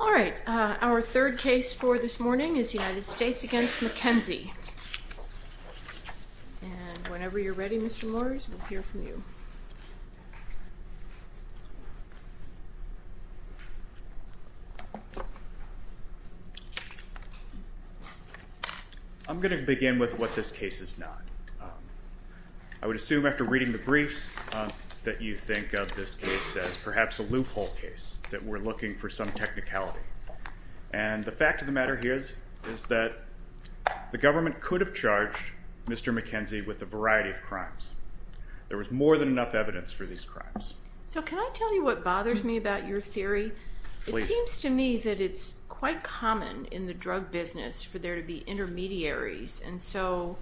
All right, our third case for this morning is United States v. McKenzie. Whenever you're ready, Mr. Morris, we'll hear from you. I'm going to begin with what this case is not. I would assume after reading the briefs that you think of this case as perhaps a loophole case, that we're looking for some technicality. And the fact of the matter here is that the government could have charged Mr. McKenzie with a variety of crimes. There was more than enough evidence for these crimes. So can I tell you what bothers me about your theory? It seems to me that it's quite common in the drug business for there to be intermediaries. And so,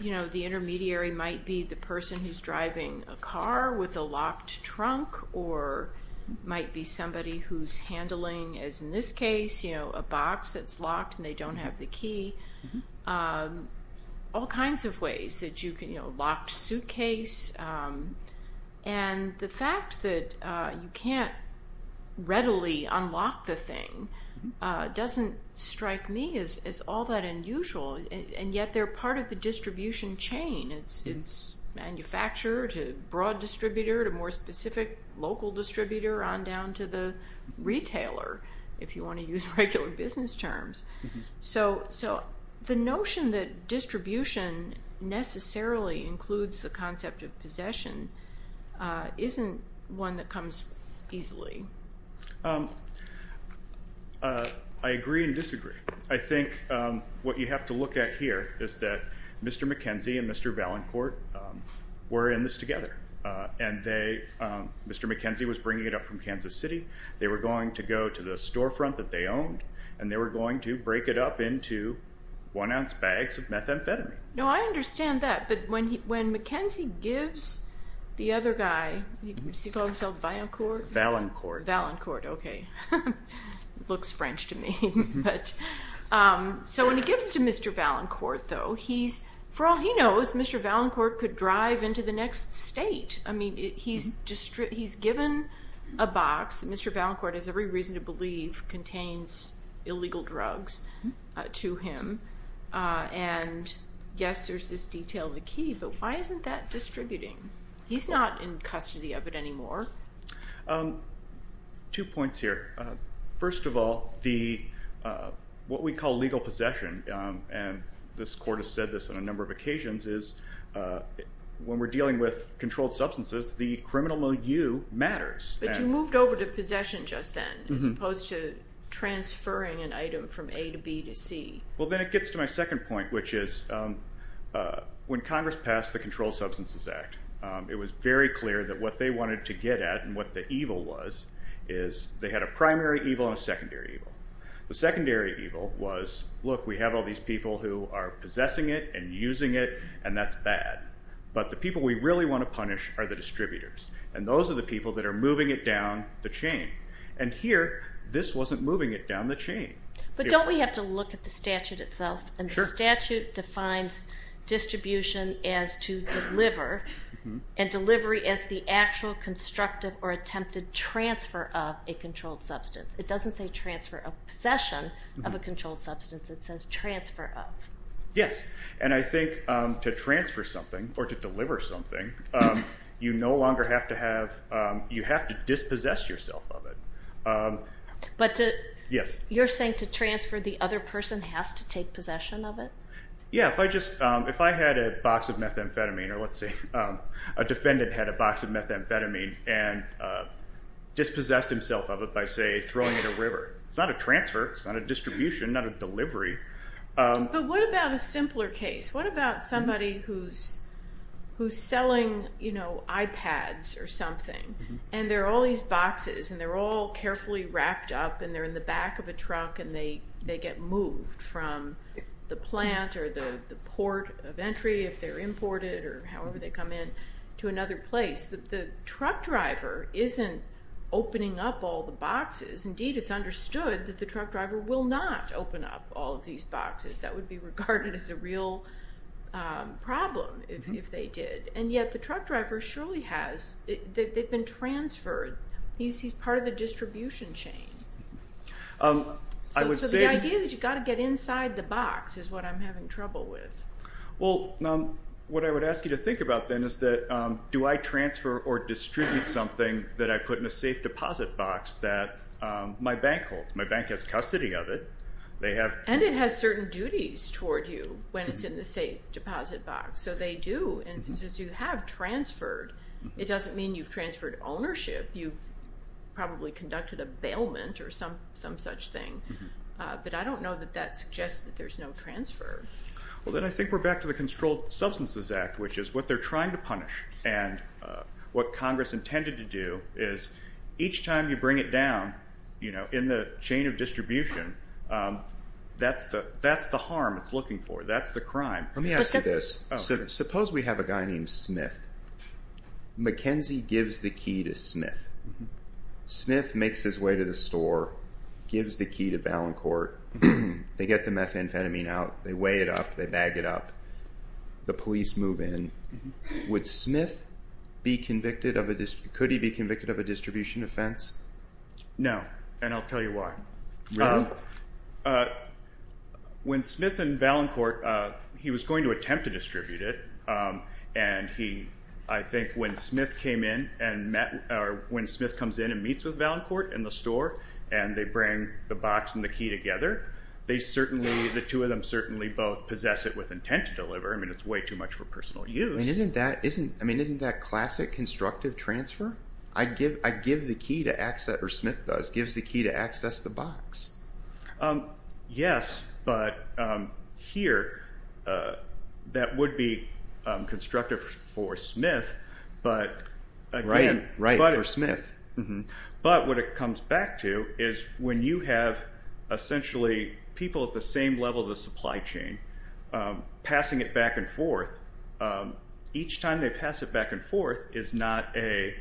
you know, the intermediary might be the person who's driving a car with a locked trunk or might be somebody who's handling, as in this case, you know, a box that's locked and they don't have the key. All kinds of ways that you can, you know, locked suitcase. And the fact that you can't readily unlock the thing doesn't strike me as all that unusual. And yet they're part of the distribution chain. It's manufacturer to broad distributor to more specific local distributor on down to the retailer, if you want to use regular business terms. So the notion that distribution necessarily includes the concept of possession isn't one that comes easily. I agree and disagree. I think what you have to look at here is that Mr. McKenzie and Mr. Ballancourt were in this together. And Mr. McKenzie was bringing it up from Kansas City. They were going to go to the storefront that they owned. And they were going to break it up into one ounce bags of methamphetamine. No, I understand that. But when McKenzie gives the other guy, does he call himself Ballancourt? Ballancourt. Ballancourt, okay. Looks French to me. So when he gives it to Mr. Ballancourt, though, he's, for all he knows, Mr. Ballancourt could drive into the next state. I mean, he's given a box. Mr. Ballancourt, as every reason to believe, contains illegal drugs to him. And, yes, there's this detail in the key, but why isn't that distributing? He's not in custody of it anymore. Two points here. First of all, what we call legal possession, and this court has said this on a number of occasions, is when we're dealing with controlled substances, the criminal milieu matters. But you moved over to possession just then as opposed to transferring an item from A to B to C. Well, then it gets to my second point, which is when Congress passed the Controlled Substances Act, it was very clear that what they wanted to get at and what the evil was is they had a primary evil and a secondary evil. The secondary evil was, look, we have all these people who are possessing it and using it, and that's bad. But the people we really want to punish are the distributors, and those are the people that are moving it down the chain. And here, this wasn't moving it down the chain. But don't we have to look at the statute itself? Sure. And the statute defines distribution as to deliver, and delivery as the actual constructive or attempted transfer of a controlled substance. It doesn't say transfer of possession of a controlled substance. It says transfer of. Yes, and I think to transfer something or to deliver something, you no longer have to have, you have to dispossess yourself of it. But you're saying to transfer, the other person has to take possession of it? Yeah, if I just, if I had a box of methamphetamine, or let's say a defendant had a box of methamphetamine and dispossessed himself of it by, say, throwing it in a river. It's not a transfer. It's not a distribution, not a delivery. But what about a simpler case? What about somebody who's selling iPads or something, and there are all these boxes, and they're all carefully wrapped up, and they're in the back of a truck, and they get moved from the plant or the port of entry if they're imported or however they come in to another place. The truck driver isn't opening up all the boxes. Indeed, it's understood that the truck driver will not open up all of these boxes. That would be regarded as a real problem if they did. And yet the truck driver surely has. They've been transferred. He's part of the distribution chain. So the idea that you've got to get inside the box is what I'm having trouble with. Well, what I would ask you to think about then is that do I transfer or distribute something that I put in a safe deposit box that my bank holds? My bank has custody of it. And it has certain duties toward you when it's in the safe deposit box. So they do. And since you have transferred, it doesn't mean you've transferred ownership. You've probably conducted a bailment or some such thing. But I don't know that that suggests that there's no transfer. Well, then I think we're back to the Controlled Substances Act, which is what they're trying to punish. And what Congress intended to do is each time you bring it down in the chain of distribution, that's the harm it's looking for. That's the crime. Let me ask you this. Suppose we have a guy named Smith. McKenzie gives the key to Smith. Smith makes his way to the store, gives the key to Ballancourt. They get the methamphetamine out. They weigh it up. They bag it up. The police move in. Would Smith be convicted of a distribution offense? No, and I'll tell you why. Really? When Smith and Ballancourt, he was going to attempt to distribute it, and I think when Smith comes in and meets with Ballancourt in the store and they bring the box and the key together, the two of them certainly both possess it with intent to deliver. I mean it's way too much for personal use. Isn't that classic constructive transfer? Smith does. Gives the key to access the box. Yes, but here that would be constructive for Smith. Right, for Smith. But what it comes back to is when you have essentially people at the same level of the supply chain passing it back and forth, each time they pass it back and forth is not a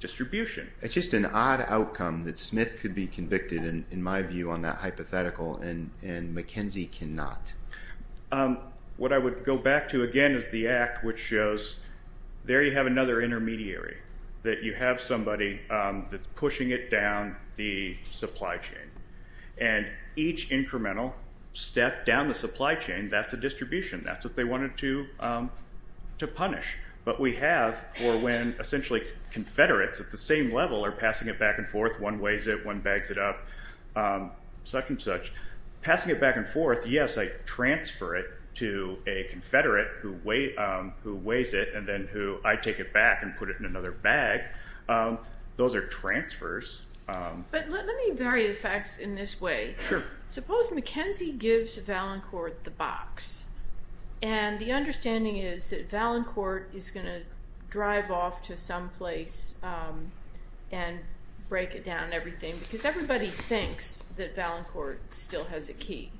distribution. It's just an odd outcome that Smith could be convicted in my view on that hypothetical and McKenzie cannot. What I would go back to again is the act which shows there you have another intermediary, that you have somebody that's pushing it down the supply chain, and each incremental step down the supply chain, that's a distribution. That's what they wanted to punish. But we have for when essentially confederates at the same level are passing it back and forth, one weighs it, one bags it up, such and such. Passing it back and forth, yes, I transfer it to a confederate who weighs it and then who I take it back and put it in another bag. Those are transfers. But let me vary the facts in this way. Sure. Suppose McKenzie gives Valancourt the box, and the understanding is that Valancourt is going to drive off to some place and break it down and everything because everybody thinks that Valancourt still has a key.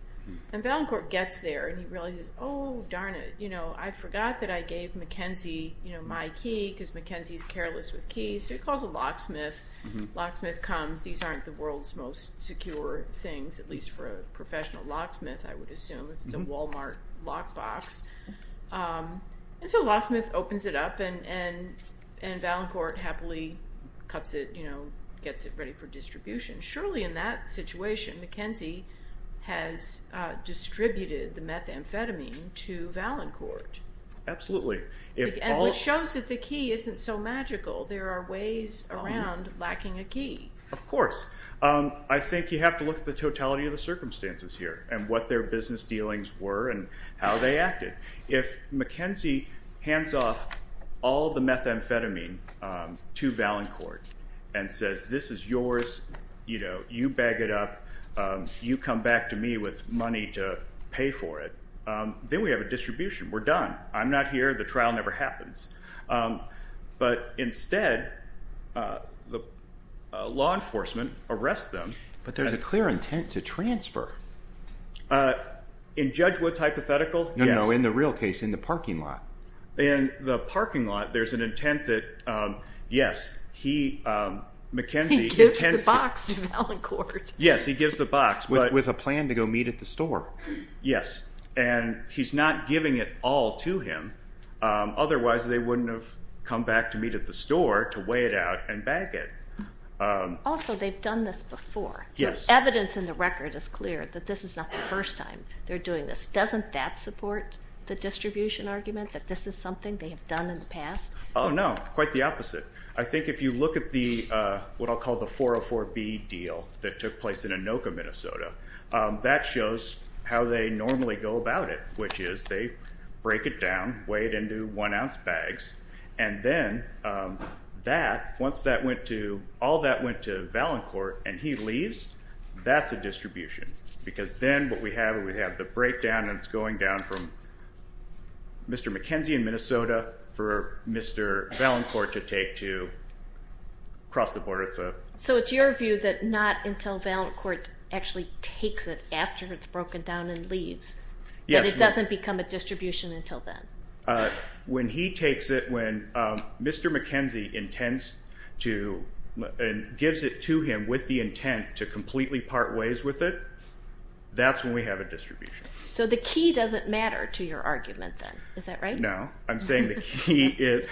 And Valancourt gets there and he realizes, oh, darn it, I forgot that I gave McKenzie my key because McKenzie is careless with keys. So he calls a locksmith. The locksmith comes. These aren't the world's most secure things, at least for a professional locksmith, I would assume, if it's a Walmart lockbox. And so the locksmith opens it up, and Valancourt happily cuts it, gets it ready for distribution. Surely in that situation McKenzie has distributed the methamphetamine to Valancourt. Absolutely. Which shows that the key isn't so magical. There are ways around lacking a key. Of course. I think you have to look at the totality of the circumstances here and what their business dealings were and how they acted. If McKenzie hands off all the methamphetamine to Valancourt and says, this is yours, you bag it up, you come back to me with money to pay for it, then we have a distribution. We're done. I'm not here. The trial never happens. But instead law enforcement arrests them. But there's a clear intent to transfer. In Judge Wood's hypothetical, yes. No, no, in the real case, in the parking lot. In the parking lot there's an intent that, yes, McKenzie intends to. He gives the box to Valancourt. Yes, he gives the box. With a plan to go meet at the store. Yes. And he's not giving it all to him. Otherwise they wouldn't have come back to meet at the store to weigh it out and bag it. Also, they've done this before. Evidence in the record is clear that this is not the first time they're doing this. Doesn't that support the distribution argument that this is something they have done in the past? Oh, no. Quite the opposite. I think if you look at what I'll call the 404B deal that took place in Anoka, Minnesota, that shows how they normally go about it, which is they break it down, weigh it into one-ounce bags, and then once all that went to Valancourt and he leaves, that's a distribution. Because then what we have is we have the breakdown and it's going down from Mr. McKenzie in Minnesota for Mr. Valancourt to take to across the border. So it's your view that not until Valancourt actually takes it after it's broken down and leaves that it doesn't become a distribution until then? When he takes it, when Mr. McKenzie intends to and gives it to him with the intent to completely part ways with it, that's when we have a distribution. So the key doesn't matter to your argument then. Is that right? No. I'm saying the key is,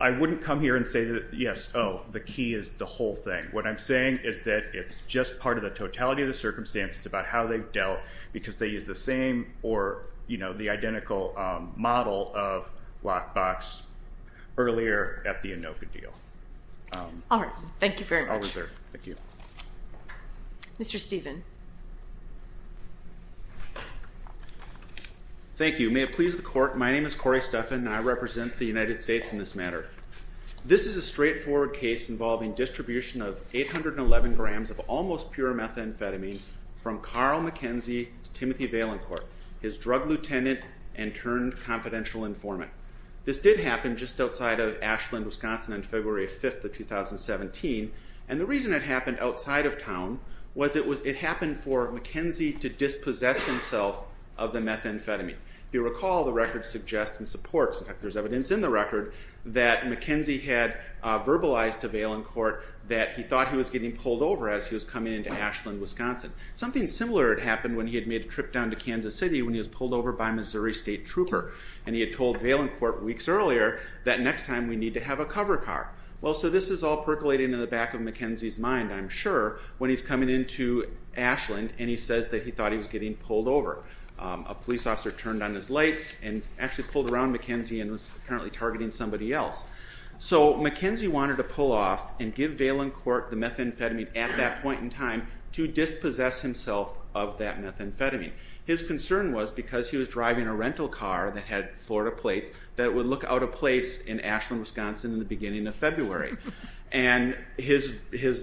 I wouldn't come here and say that, yes, oh, the key is the whole thing. What I'm saying is that it's just part of the totality of the circumstances about how they've dealt because they use the same or the identical model of lockbox earlier at the ANOVA deal. All right. Thank you very much. I'll reserve. Thank you. Mr. Stephen. Thank you. May it please the Court, my name is Corey Stephan and I represent the United States in this matter. This is a straightforward case involving distribution of 811 grams of almost pure methamphetamine from Carl McKenzie to Timothy Valencourt, his drug lieutenant and turned confidential informant. This did happen just outside of Ashland, Wisconsin on February 5th of 2017 and the reason it happened outside of town was it happened for McKenzie to dispossess himself of the methamphetamine. If you recall, the record suggests and supports, in fact there's evidence in the record, that McKenzie had verbalized to Valencourt that he thought he was getting pulled over as he was coming into Ashland, Wisconsin. Something similar had happened when he had made a trip down to Kansas City when he was pulled over by a Missouri State trooper and he had told Valencourt weeks earlier that next time we need to have a cover car. Well, so this is all percolating in the back of McKenzie's mind, I'm sure, when he's coming into Ashland and he says that he thought he was getting pulled over. A police officer turned on his lights and actually pulled around McKenzie and was apparently targeting somebody else. So McKenzie wanted to pull off and give Valencourt the methamphetamine at that point in time to dispossess himself of that methamphetamine. His concern was because he was driving a rental car that had Florida plates that it would look out of place in Ashland, Wisconsin in the beginning of February. And his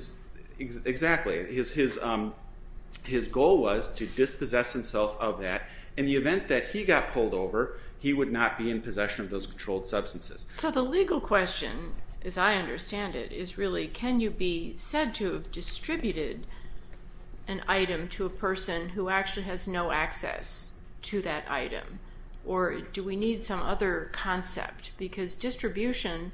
goal was to dispossess himself of that. In the event that he got pulled over, he would not be in possession of those controlled substances. So the legal question, as I understand it, is really, can you be said to have distributed an item to a person who actually has no access to that item? Or do we need some other concept? Because distribution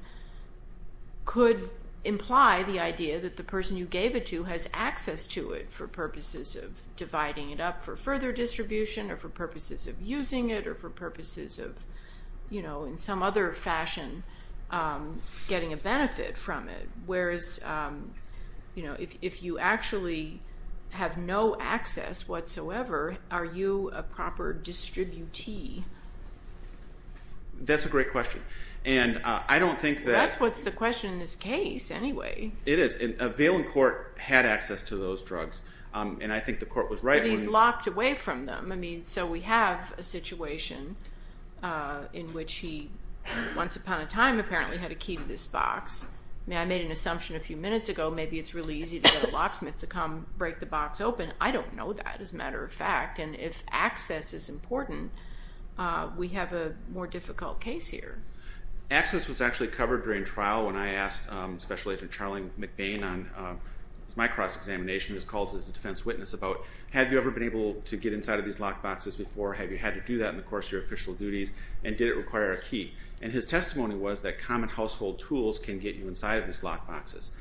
could imply the idea that the person you gave it to has access to it for purposes of dividing it up for further distribution or for purposes of using it or for purposes of, in some other fashion, getting a benefit from it. Whereas if you actually have no access whatsoever, are you a proper distributee? That's a great question. That's what's the question in this case, anyway. It is. Valencourt had access to those drugs. And I think the court was right. But he's locked away from them. So we have a situation in which he once upon a time apparently had a key to this box. I made an assumption a few minutes ago, maybe it's really easy to get a locksmith to come break the box open. I don't know that, as a matter of fact. And if access is important, we have a more difficult case here. Access was actually covered during trial when I asked Special Agent Charlie McBain on my cross-examination, who was called as a defense witness, about, have you ever been able to get inside of these locked boxes before? Have you had to do that in the course of your official duties? And did it require a key? And his testimony was that common household tools can get you inside of these locked boxes.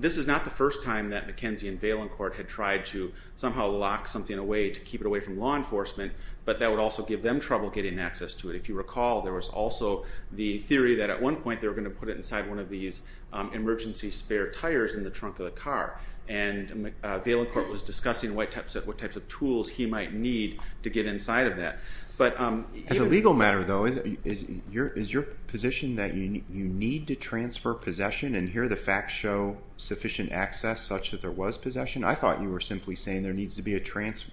This is not the first time that McKenzie and Valencourt had tried to somehow lock something away to keep it away from law enforcement, but that would also give them trouble getting access to it. If you recall, there was also the theory that at one point they were going to put it inside one of these emergency spare tires in the trunk of the car. And Valencourt was discussing what types of tools he might need to get inside of that. Nick Delgado As a legal matter, though, is your position that you need to transfer possession? And here the facts show sufficient access, such that there was possession? I thought you were simply saying there needs to be a transfer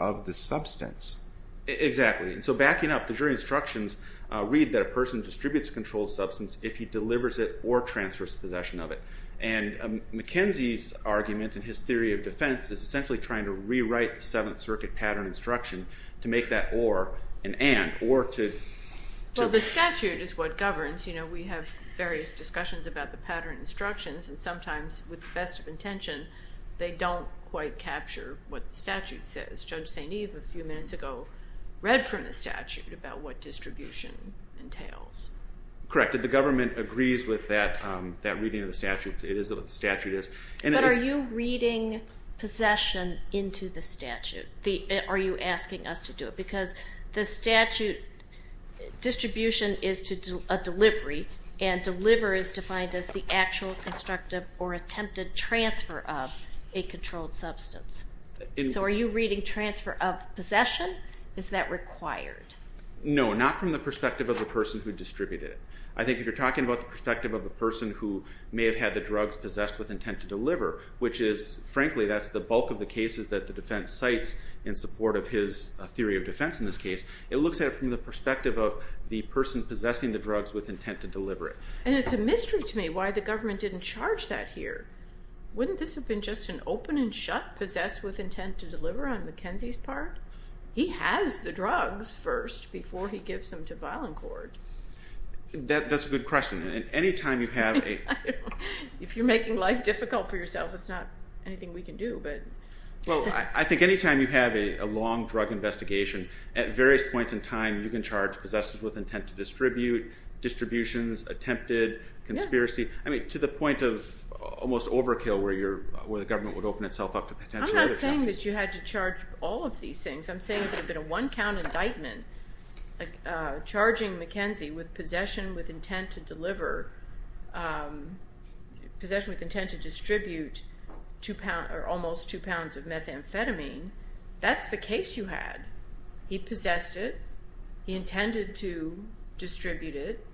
of the substance. David Altshuler Exactly. And so backing up, the jury instructions read that a person distributes a controlled substance if he delivers it or transfers possession of it. And McKenzie's argument in his theory of defense is essentially trying to rewrite the Seventh Circuit pattern instruction to make that or an and, or to... Mary Striegel Well, the statute is what governs. We have various discussions about the pattern instructions, and sometimes with the best of intention they don't quite capture what the statute says. Judge St. Eve a few minutes ago read from the statute about what distribution entails. David Altshuler Correct. The government agrees with that reading of the statute. It is what the statute is. And it is... Mary Striegel But are you reading possession into the statute? Are you asking us to do it? Because the statute distribution is a delivery, and deliver is defined as the actual constructive or attempted transfer of a controlled substance. So are you reading transfer of possession? Is that required? David Altshuler No, not from the perspective of the person who distributed it. I think if you're talking about the perspective of a person who may have had the drugs possessed with intent to deliver, which is, frankly, that's the bulk of the cases that the defense cites in support of his theory of defense in this case, it looks at it from the perspective of the person possessing the drugs with intent to deliver it. Mary Striegel And it's a mystery to me why the government didn't charge that here. Wouldn't this have been just an open and shut possessed with intent to deliver on McKenzie's part? He has the drugs first before he gives them to violent court. David Altshuler That's a good question. And any time you have a... Mary Striegel I don't know. If you're making life difficult for yourself, it's not anything we can do, but... David Altshuler Well, I think any time you have a long drug investigation, at various points in time, you can charge possessors with intent to distribute, distributions, attempted, conspiracy. I mean, to the point of almost overkill where the government would open itself up to potential... Mary Striegel I'm not saying that you had to charge all of these things. I'm saying if it had been a one-count indictment, like charging McKenzie with possession with intent to deliver, possession with intent to distribute almost two pounds of methamphetamine, that's the case you had. He possessed it. He intended to distribute it.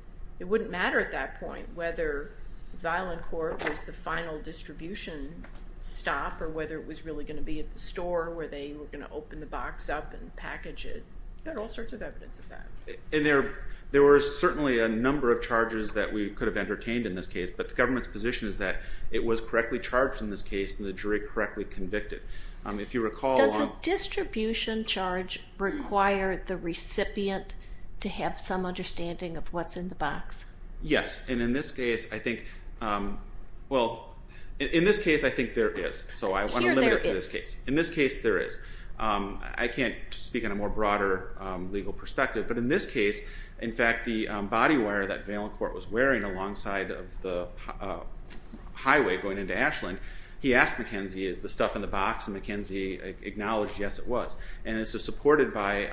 It wouldn't matter at that point whether violent court was the final distribution stop or whether it was really going to be at the store where they were going to open the box up and package it. You've got all sorts of evidence of that. David Altshuler And there were certainly a number of charges that we could have entertained in this case, but the government's position is that it was correctly charged in this case and the jury correctly convicted. If you recall... Mary Striegel Does a distribution charge require the recipient to have some understanding of what's in the box? David Altshuler Yes, and in this case, I think there is. So I want to limit it to this case. In this case, there is. I can't speak on a more broader legal perspective, but in this case, in fact, the body wear that violent court was wearing alongside of the highway going into Ashland, he asked McKenzie, is the stuff in the box? And McKenzie acknowledged, yes, it was. And this is supported by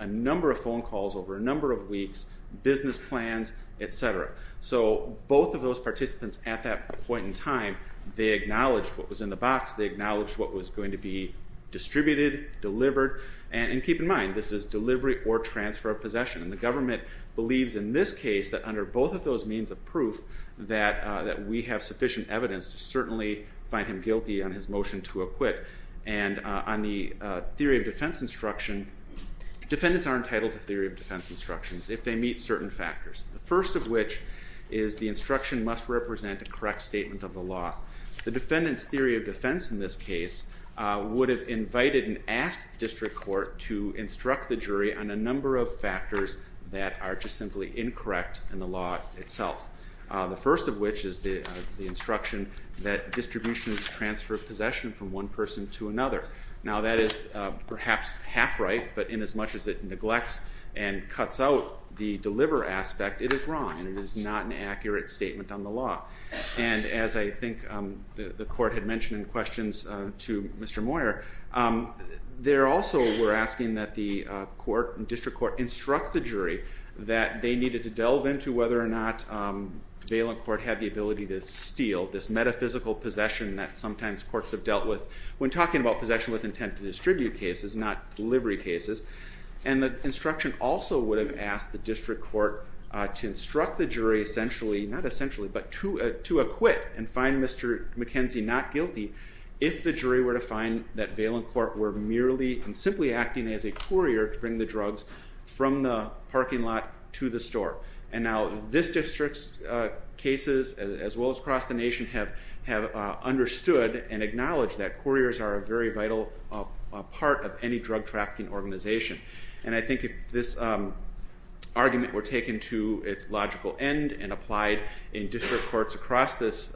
a number of phone calls over a number of weeks, business plans, et cetera. So both of those participants at that point in time, they acknowledged what was in the box. They acknowledged what was going to be distributed, delivered. And keep in mind, this is delivery or transfer of possession. And the government believes in this case that under both of those means of proof that we have sufficient evidence to certainly find him guilty on his motion to acquit. And on the theory of defense instruction, defendants are entitled to theory of defense instructions if they meet certain factors. The first of which is the instruction must represent a correct statement of the law. The defendant's theory of defense in this case would have invited and asked district court to instruct the jury on a number of factors that are just simply incorrect in the law itself. The first of which is the instruction that distribution is a transfer of possession from one person to another. Now, that is perhaps half right, but inasmuch as it neglects and cuts out the deliver aspect, it is wrong and it is not an accurate statement on the law. And as I think the court had mentioned in questions to Mr. Moyer, they also were asking that the district court instruct the jury that they needed to delve into whether or not valent court had the ability to steal this metaphysical possession that sometimes courts have dealt with when talking about possession with intent to distribute cases, not delivery cases. And the instruction also would have asked the district court to instruct the jury essentially, not essentially, but to acquit and find Mr. McKenzie not guilty if the jury were to find that valent court were merely and simply acting as a courier to bring the drugs from the parking lot to the store. And now this district's cases, as well as across the nation, have understood and And I think if this argument were taken to its logical end and applied in district courts across this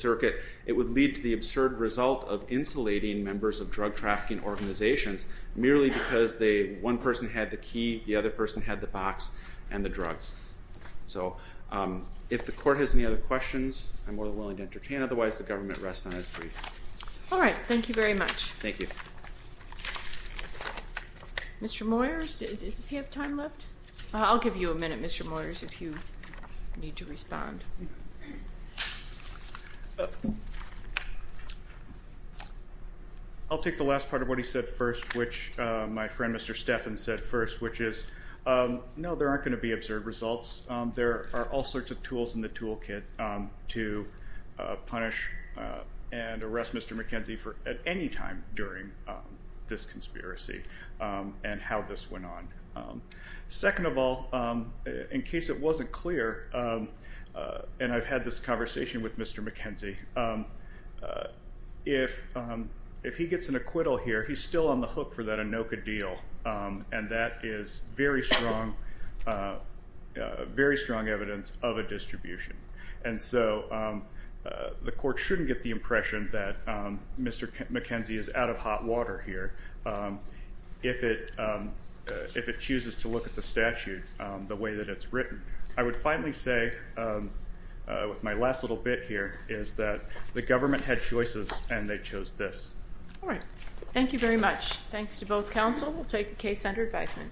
circuit, it would lead to the absurd result of insulating members of drug trafficking organizations merely because one person had the key, the other person had the box, and the drugs. So if the court has any other questions, I'm more than willing to entertain. Otherwise, the government rests on its feet. All right. Thank you very much. Thank you. Mr. Moyers, does he have time left? I'll give you a minute, Mr. Moyers, if you need to respond. I'll take the last part of what he said first, which my friend Mr. Stephan said first, which is, no, there aren't going to be absurd results. There are all sorts of tools in the toolkit to punish and arrest Mr. McKenzie at any time during this conspiracy and how this went on. Second of all, in case it wasn't clear, and I've had this conversation with Mr. McKenzie, if he gets an acquittal here, he's still on the hook for that Anoka deal, and that is very strong evidence of a distribution. And so the court shouldn't get the impression that Mr. McKenzie is out of hot water here if it chooses to look at the statute the way that it's written. I would finally say, with my last little bit here, is that the government had choices and they chose this. All right. Thank you very much. Thanks to both counsel. We'll take the case under advisement.